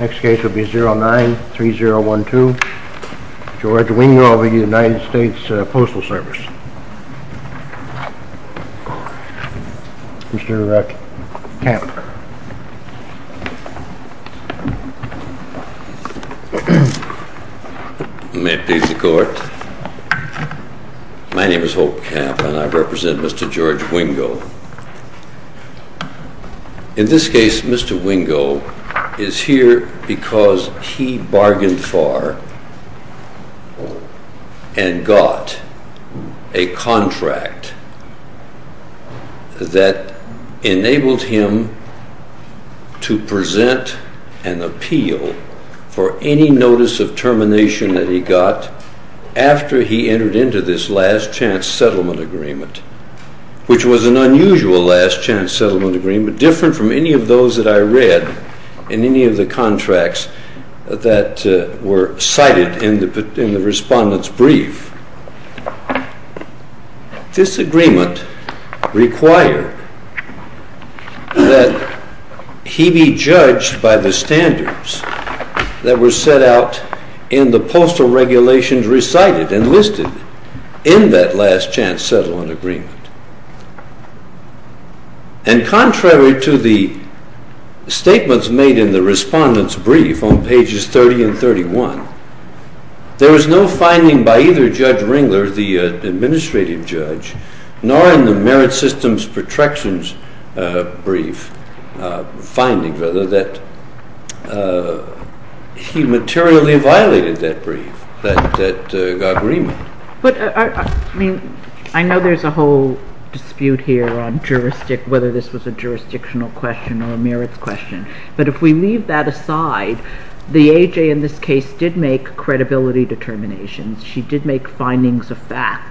Next case will be 093012, George Wingo v. United States Postal Service. Mr. Camp. May it please the court. My name is Hope Camp and I represent Mr. George Wingo. In this case Mr. Wingo is here because he bargained far and got a contract that enabled him to present an appeal for any notice of termination that he got after he entered into this last chance settlement agreement, which was an unusual last chance settlement agreement, different from any of those that I read in any of the contracts that were cited in the respondent's brief. This agreement required that he be judged by the standards that were set out in the postal regulations recited and listed in that last chance settlement agreement. And contrary to the statements made in the respondent's brief on pages 30 and 31, there was no finding by either Judge Ringler, the administrative judge, nor in the merit systems protractions finding that he materially violated that agreement. I know there's a whole dispute here on whether this was a jurisdictional question or a merits question, but if we leave that aside, the AJ in this case did make credibility determinations. She did make findings of fact.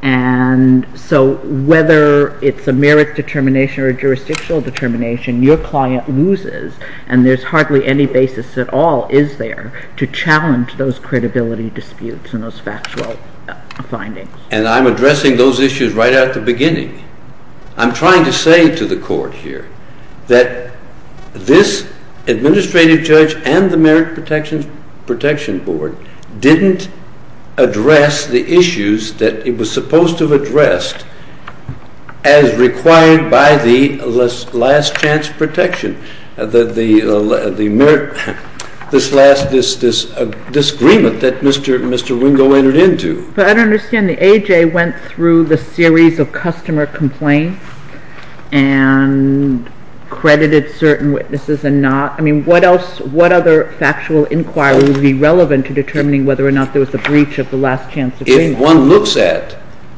And so whether it's a merits determination or a jurisdictional determination, your client loses and there's hardly any basis at all, is there, to challenge those credibility disputes and those factual findings. And I'm addressing those issues right at the beginning. I'm trying to say to the Court here that this administrative judge and the Merit Protection Board didn't address the issues that it was supposed to have addressed as required by the last chance protection, this agreement that Mr. Ringo entered into. But I don't understand. The AJ went through the series of customer complaints and credited certain witnesses and not. I mean, what other factual inquiry would be relevant to determining whether or not there was a breach of the last chance agreement? If one looks at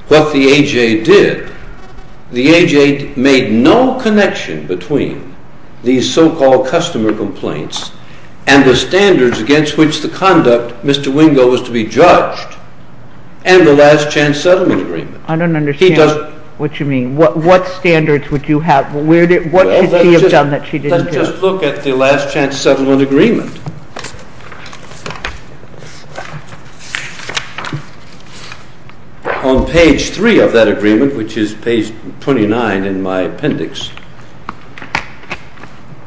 what the AJ did, the AJ made no connection between these so-called customer complaints and the standards against which the conduct, Mr. Ringo, was to be judged and the last chance settlement agreement. I don't understand what you mean. What standards would you have? What should she have done that she didn't do? Let's just look at the last chance settlement agreement. On page 3 of that agreement, which is page 29 in my appendix,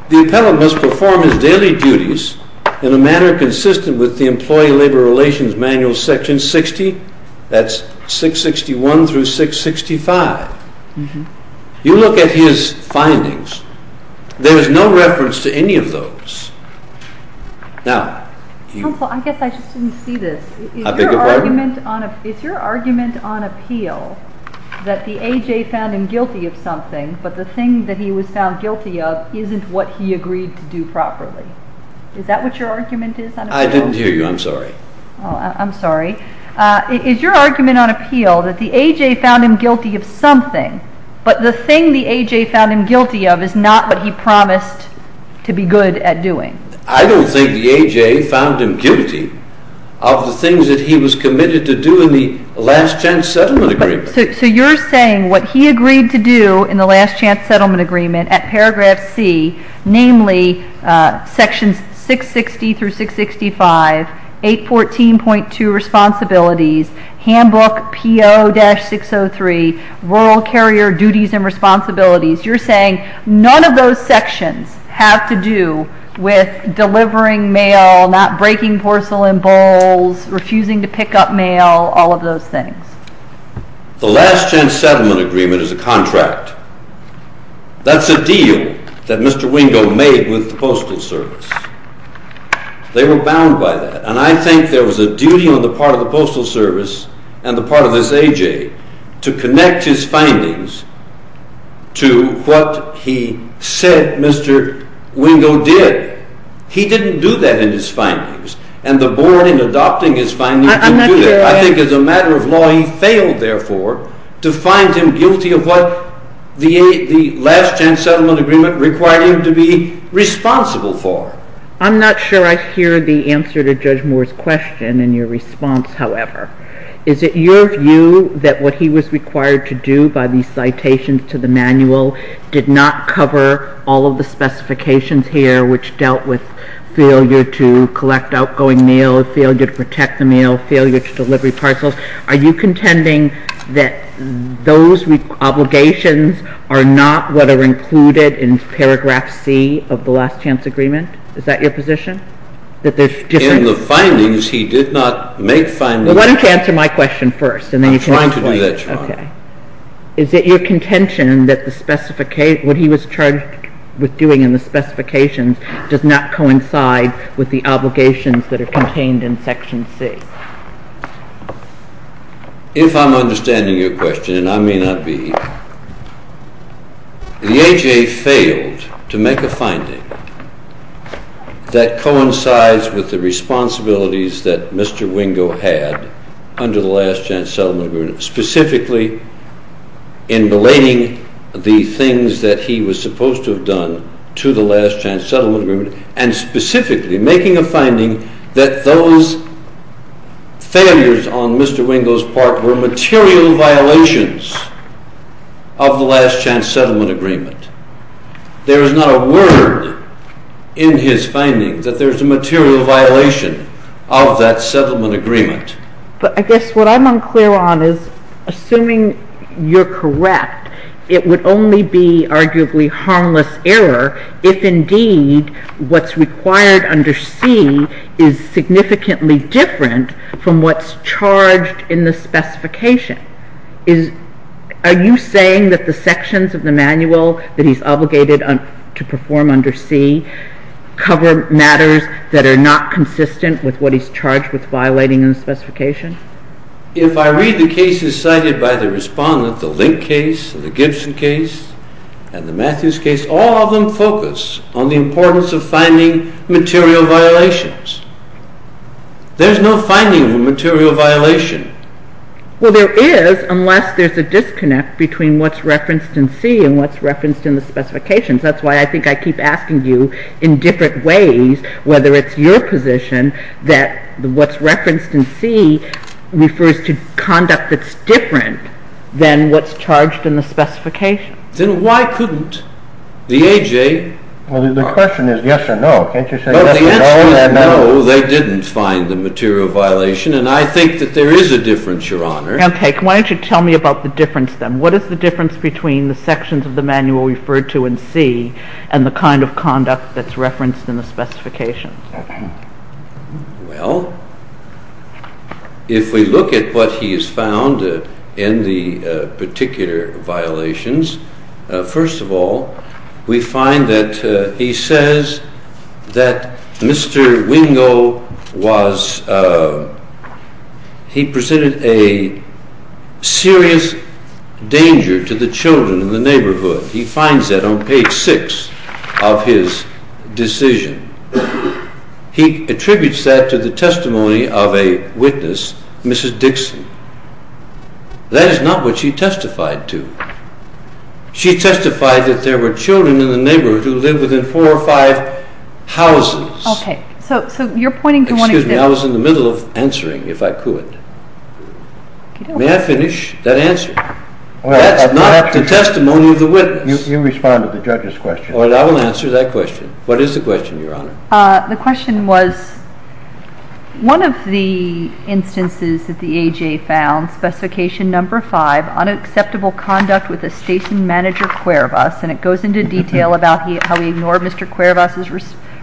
the appellant must perform his daily duties in a manner consistent with the employee labor relations manual section 60, that's 661 through 665. You look at his findings. There is no reference to any of those. Counsel, I guess I just didn't see this. I beg your pardon? Is your argument on appeal that the AJ found him guilty of something, but the thing that he was found guilty of isn't what he agreed to do properly? Is that what your argument is? I didn't hear you. I'm sorry. Is your argument on appeal that the AJ found him guilty of something, but the thing the AJ found him guilty of is not what he promised to be good at doing? I don't think the AJ found him guilty of the things that he was committed to do in the last chance settlement agreement. You're saying what he agreed to do in the last chance settlement agreement at paragraph C, namely sections 660 through 665, 814.2 responsibilities, handbook PO-603, rural carrier duties and responsibilities, you're saying none of those sections have to do with delivering mail, not breaking porcelain bowls, refusing to pick up mail, all of those things. The last chance settlement agreement is a contract. That's a deal that Mr. Wingo made with the Postal Service. They were bound by that, and I think there was a duty on the part of the Postal Service and the part of this AJ to connect his findings to what he said Mr. Wingo did. He didn't do that in his findings, and the board in adopting his findings didn't do that. I think as a matter of law he failed, therefore, to find him guilty of what the last chance settlement agreement required him to be responsible for. I'm not sure I hear the answer to Judge Moore's question in your response, however. Is it your view that what he was required to do by these citations to the manual did not cover all of the specifications here, which dealt with failure to collect outgoing mail, failure to protect the mail, failure to deliver parcels? Are you contending that those obligations are not what are included in paragraph C of the last chance agreement? Is that your position, that there's different? In the findings, he did not make findings. Well, why don't you answer my question first, and then you can explain it. I'm trying to do that, Your Honor. Okay. Is it your contention that what he was charged with doing in the specifications does not coincide with the obligations that are contained in section C? If I'm understanding your question, and I may not be, the AHA failed to make a finding that coincides with the responsibilities that Mr. Wingo had under the last chance settlement agreement, that the failures on Mr. Wingo's part were material violations of the last chance settlement agreement. There is not a word in his findings that there's a material violation of that settlement agreement. But I guess what I'm unclear on is, assuming you're correct, it would only be arguably harmless error if indeed what's required under C is significantly different from what's charged in the specification. Are you saying that the sections of the manual that he's obligated to perform under C cover matters that are not consistent with what he's charged with violating in the specification? If I read the cases cited by the Respondent, the Link case, the Gibson case, and the Matthews case, all of them focus on the importance of finding material violations. There's no finding of a material violation. Well, there is, unless there's a disconnect between what's referenced in C and what's referenced in the specifications. That's why I think I keep asking you in different ways, whether it's your position that what's referenced in C refers to conduct that's different than what's charged in the specification. Then why couldn't the AHA? Well, the question is yes or no. Can't you say yes or no? No, they didn't find the material violation. And I think that there is a difference, Your Honor. Okay. Why don't you tell me about the difference then? What is the difference between the sections of the manual referred to in C and the kind of conduct that's referenced in the specification? Well, if we look at what he has found in the particular violations, first of all, we find that he says that Mr. Wingo was – he presented a serious danger to the children in the neighborhood. He finds that on page 6 of his decision. He attributes that to the testimony of a witness, Mrs. Dixon. That is not what she testified to. She testified that there were children in the neighborhood who lived within four or five houses. Okay. So you're pointing to one example. Excuse me. I was in the middle of answering, if I could. May I finish that answer? That's not the testimony of the witness. You respond to the judge's question. All right. I will answer that question. What is the question, Your Honor? The question was, one of the instances that the AJ found, Specification No. 5, unacceptable conduct with the station manager, Cuervas, and it goes into detail about how he ignored Mr. Cuervas'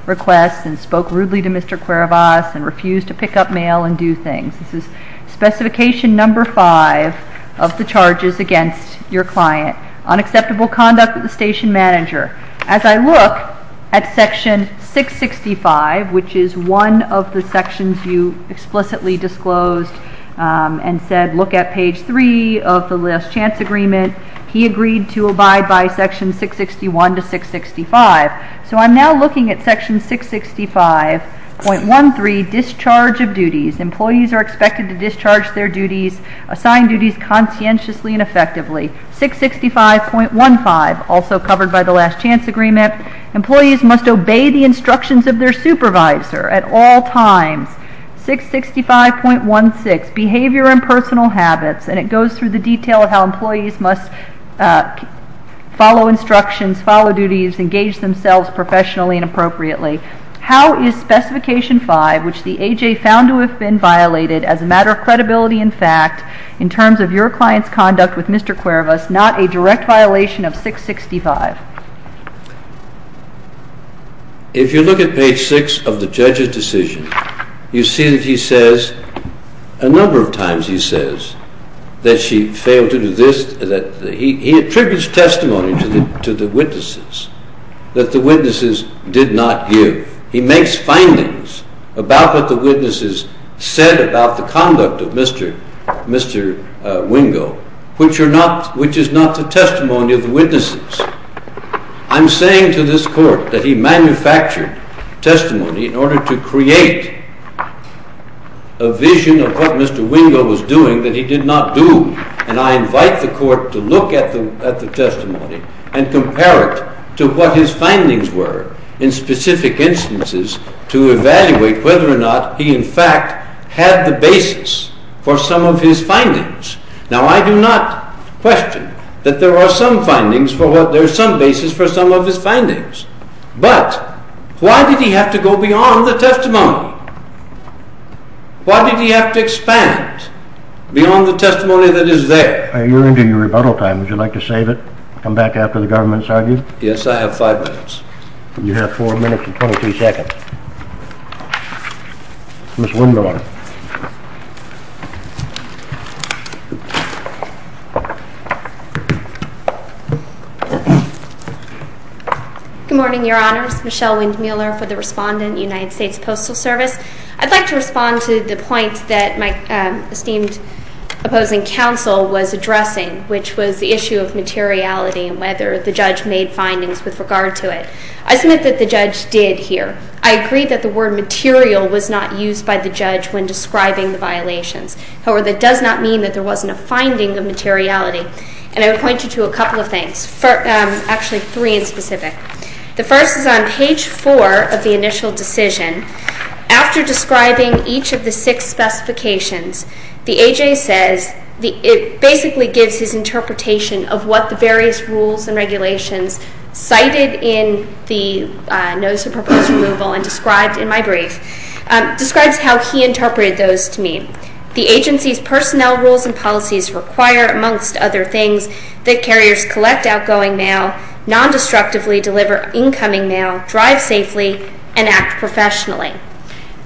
request and spoke rudely to Mr. Cuervas and refused to pick up mail and do things. This is Specification No. 5 of the charges against your client, unacceptable conduct with the station manager. As I look at Section 665, which is one of the sections you explicitly disclosed and said look at page 3 of the Last Chance Agreement, he agreed to abide by Section 661 to 665. So I'm now looking at Section 665.13, Discharge of Duties. Employees are expected to discharge their duties, assign duties conscientiously and effectively. 665.15, also covered by the Last Chance Agreement, employees must obey the instructions of their supervisor at all times. 665.16, Behavior and Personal Habits, and it goes through the detail of how employees must follow instructions, follow duties, engage themselves professionally and appropriately. How is Specification No. 5, which the AJ found to have been violated as a matter of credibility and fact, in terms of your client's conduct with Mr. Cuervas, not a direct violation of 665? If you look at page 6 of the judge's decision, you see that he says, a number of times he says, that she failed to do this, that he attributes testimony to the witnesses, that the witnesses did not give. He makes findings about what the witnesses said about the conduct of Mr. Wingo, which is not the testimony of the witnesses. I'm saying to this court that he manufactured testimony in order to create a vision of what Mr. Wingo was doing that he did not do, and I invite the court to look at the testimony and compare it to what his findings were in specific instances to evaluate whether or not he in fact had the basis for some of his findings. Now, I do not question that there are some findings for what there's some basis for some of his findings, but why did he have to go beyond the testimony? Why did he have to expand beyond the testimony that is there? You're into your rebuttal time. Would you like to save it and come back after the government's argument? Yes, I have five minutes. You have four minutes and 22 seconds. Good morning, Your Honors. Michelle Windmuller for the Respondent, United States Postal Service. I'd like to respond to the point that my esteemed opposing counsel was addressing, which was the issue of materiality and whether the judge made findings with regard to it. I submit that the judge did here. I agree that the word material was not used by the judge when describing the violations. However, that does not mean that there wasn't a finding of materiality, and I would point you to a couple of things, actually three in specific. The first is on page four of the initial decision. After describing each of the six specifications, the A.J. says, basically gives his interpretation of what the various rules and regulations cited in the Notice of Proposed Removal and described in my brief, describes how he interpreted those to me. The agency's personnel rules and policies require, amongst other things, that carriers collect outgoing mail, non-destructively deliver incoming mail, drive safely, and act professionally.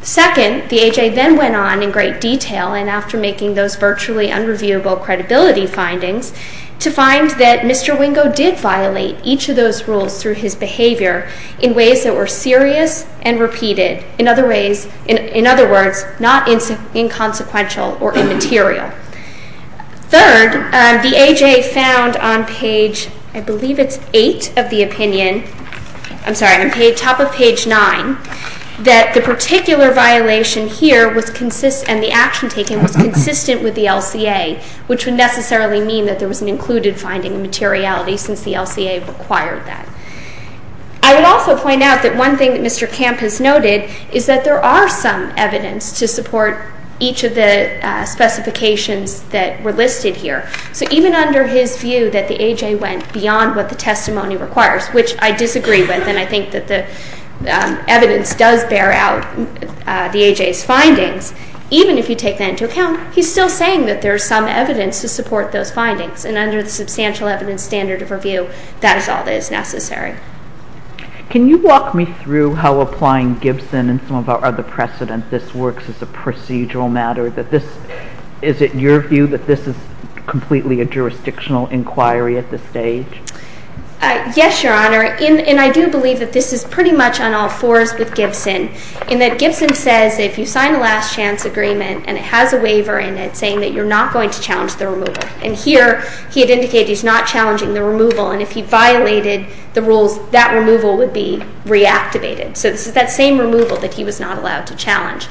Second, the A.J. then went on in great detail, and after making those virtually unreviewable credibility findings, to find that Mr. Wingo did violate each of those rules through his behavior in ways that were serious and repeated. In other words, not inconsequential or immaterial. Third, the A.J. found on page, I believe it's eight of the opinion, I'm sorry, top of page nine, that the particular violation here and the action taken was consistent with the LCA, which would necessarily mean that there was an included finding of materiality since the LCA required that. I would also point out that one thing that Mr. Camp has noted is that there are some evidence to support each of the specifications that were listed here. So even under his view that the A.J. went beyond what the testimony requires, which I disagree with and I think that the evidence does bear out the A.J.'s findings, even if you take that into account, he's still saying that there's some evidence to support those findings, and under the substantial evidence standard of review, that is all that is necessary. Can you walk me through how applying Gibson and some of our other precedent, this works as a procedural matter, that this, is it your view that this is completely a jurisdictional inquiry at this stage? Yes, Your Honor, and I do believe that this is pretty much on all fours with Gibson, in that Gibson says that if you sign a last chance agreement and it has a waiver in it saying that you're not going to challenge the removal, and here he had indicated he's not challenging the removal, and if he violated the rules, that removal would be reactivated. So this is that same removal that he was not allowed to challenge.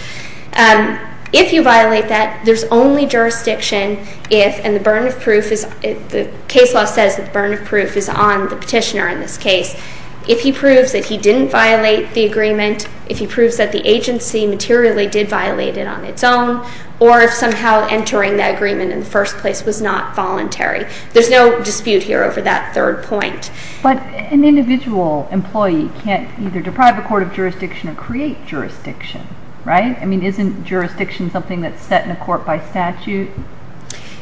If you violate that, there's only jurisdiction if, and the case law says that the burden of proof is on the petitioner in this case, if he proves that he didn't violate the agreement, if he proves that the agency materially did violate it on its own, or if somehow entering that agreement in the first place was not voluntary. There's no dispute here over that third point. But an individual employee can't either deprive a court of jurisdiction or create jurisdiction, right? I mean, isn't jurisdiction something that's set in a court by statute?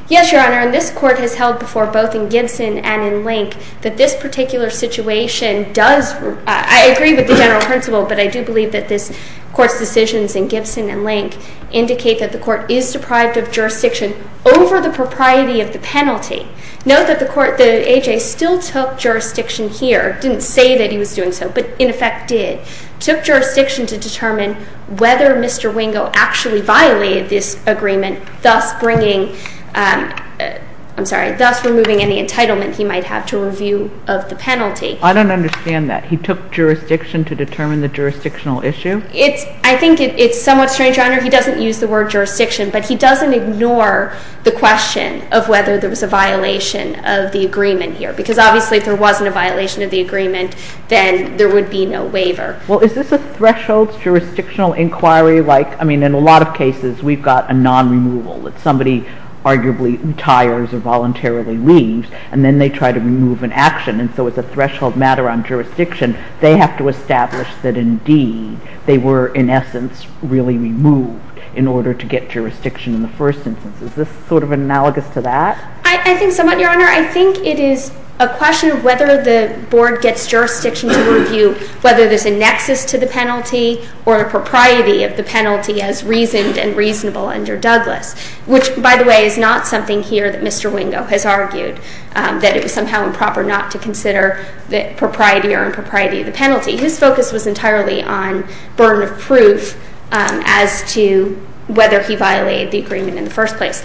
Yes, Your Honor, and this court has held before both in Gibson and in Link, that this particular situation does, I agree with the general principle, but I do believe that this court's decisions in Gibson and Link indicate that the court is deprived of jurisdiction over the propriety of the penalty. Note that the court, the A.J., still took jurisdiction here, didn't say that he was doing so, but in effect did, took jurisdiction to determine whether Mr. Wingo actually violated this agreement, thus bringing, I'm sorry, thus removing any entitlement he might have to review of the penalty. I don't understand that. He took jurisdiction to determine the jurisdictional issue? I think it's somewhat strange, Your Honor, he doesn't use the word jurisdiction, but he doesn't ignore the question of whether there was a violation of the agreement here, because obviously if there wasn't a violation of the agreement, then there would be no waiver. Well, is this a threshold jurisdictional inquiry? Like, I mean, in a lot of cases, we've got a non-removal, that somebody arguably retires or voluntarily leaves, and then they try to remove an action, and so it's a threshold matter on jurisdiction. They have to establish that indeed they were, in essence, really removed in order to get jurisdiction in the first instance. Is this sort of analogous to that? I think somewhat, Your Honor. I think it is a question of whether the Board gets jurisdiction to review whether there's a nexus to the penalty or a propriety of the penalty as reasoned and reasonable under Douglas, which, by the way, is not something here that Mr. Wingo has argued, that it was somehow improper not to consider the propriety or impropriety of the penalty. His focus was entirely on burden of proof as to whether he violated the agreement in the first place.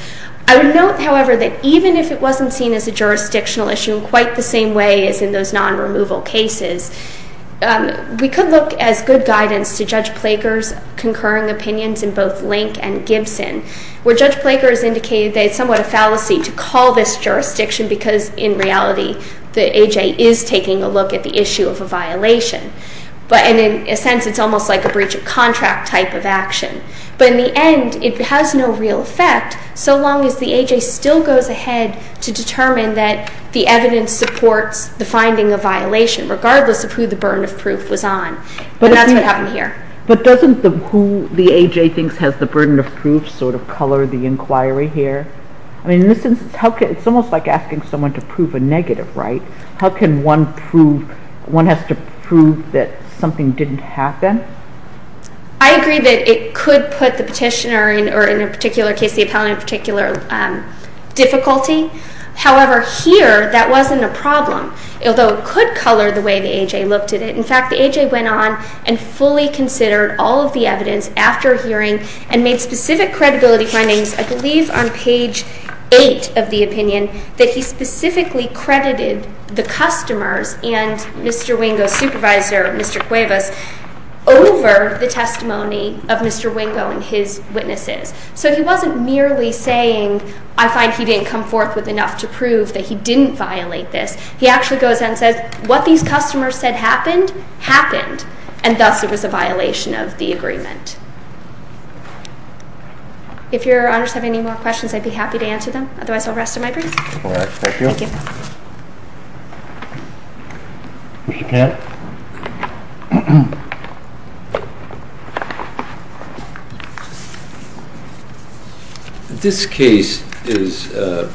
I would note, however, that even if it wasn't seen as a jurisdictional issue in quite the same way as in those non-removal cases, we could look as good guidance to Judge Plaker's concurring opinions in both Link and Gibson, where Judge Plaker has indicated that it's somewhat a fallacy to call this jurisdiction because in reality the A.J. is taking a look at the issue of a violation. And in a sense, it's almost like a breach of contract type of action. But in the end, it has no real effect so long as the A.J. still goes ahead to determine that the evidence supports the finding of violation regardless of who the burden of proof was on. And that's what happened here. But doesn't who the A.J. thinks has the burden of proof sort of color the inquiry here? I mean, it's almost like asking someone to prove a negative, right? How can one prove, one has to prove that something didn't happen? I agree that it could put the petitioner or in a particular case the appellant in a particular difficulty. However, here that wasn't a problem, although it could color the way the A.J. looked at it. In fact, the A.J. went on and fully considered all of the evidence after hearing and made specific credibility findings, I believe on page 8 of the opinion, that he specifically credited the customers and Mr. Wingo's supervisor, Mr. Cuevas, over the testimony of Mr. Wingo and his witnesses. So he wasn't merely saying, I find he didn't come forth with enough to prove that he didn't violate this. He actually goes and says, what these customers said happened, happened, and thus it was a violation of the agreement. If your honors have any more questions, I'd be happy to answer them. Otherwise, I'll rest of my brief. All right. Thank you. Mr. Pan. This case is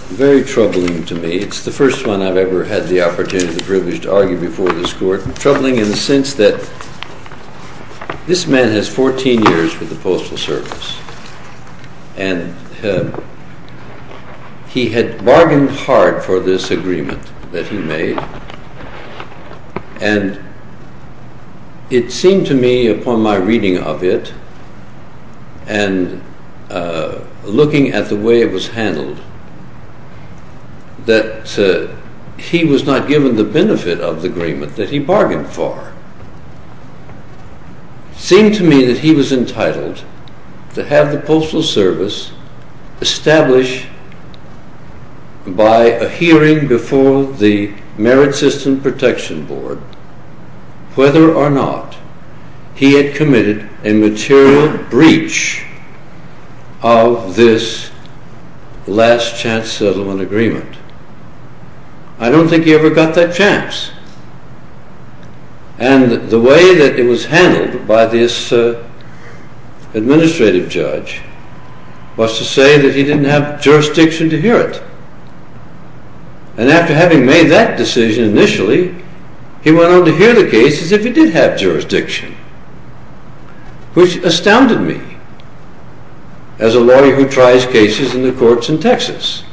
very troubling to me. It's the first one I've ever had the opportunity and the privilege to argue before this court. Troubling in the sense that this man has 14 years with the Postal Service, and he had bargained hard for this agreement that he made. And it seemed to me upon my reading of it and looking at the way it was handled that he was not given the benefit of the agreement that he bargained for. It seemed to me that he was entitled to have the Postal Service establish by a hearing before the Merit System Protection Board whether or not he had committed a material breach of this last chance settlement agreement. I don't think he ever got that chance. And the way that it was handled by this administrative judge was to say that he didn't have jurisdiction to hear it. And after having made that decision initially, he went on to hear the cases if he did have jurisdiction, which astounded me as a lawyer who tries cases in the courts in Texas.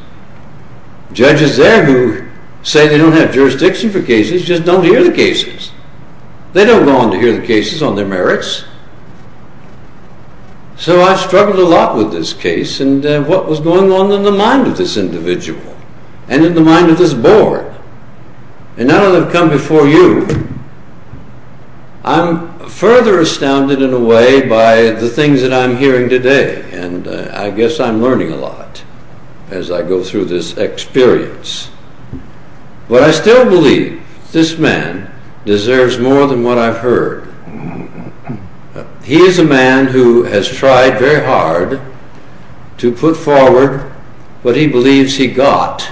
Judges there who say they don't have jurisdiction for cases just don't hear the cases. They don't go on to hear the cases on their merits. So I struggled a lot with this case and what was going on in the mind of this individual and in the mind of this board. And now that I've come before you, I'm further astounded in a way by the things that I'm hearing today. And I guess I'm learning a lot as I go through this experience. But I still believe this man deserves more than what I've heard. He is a man who has tried very hard to put forward what he believes he got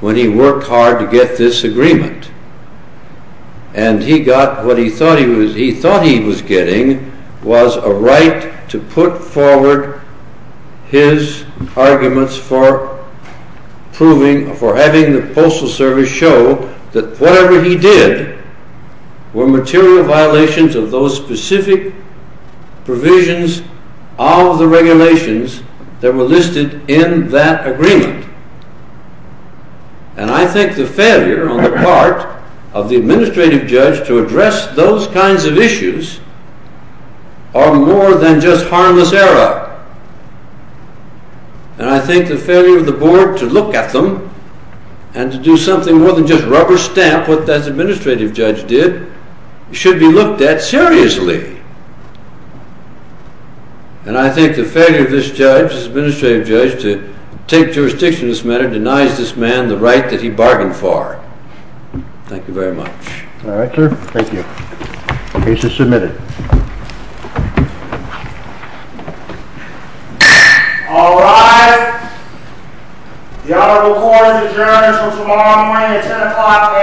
when he worked hard to get this agreement. And he got what he thought he was getting was a right to put forward his arguments for having the Postal Service show that whatever he did were material violations of those specific provisions of the regulations that were listed in that agreement. And I think the failure on the part of the administrative judge to address those kinds of issues are more than just harmless error. And I think the failure of the board to look at them and to do something more than just rubber stamp what that administrative judge did should be looked at seriously. And I think the failure of this judge, this administrative judge, to take jurisdiction in this matter denies this man the right that he bargained for. Thank you very much. All right, sir. Thank you. The case is submitted. All rise. The honorable court adjourns until tomorrow morning at 10 o'clock a.m. Thank you very much.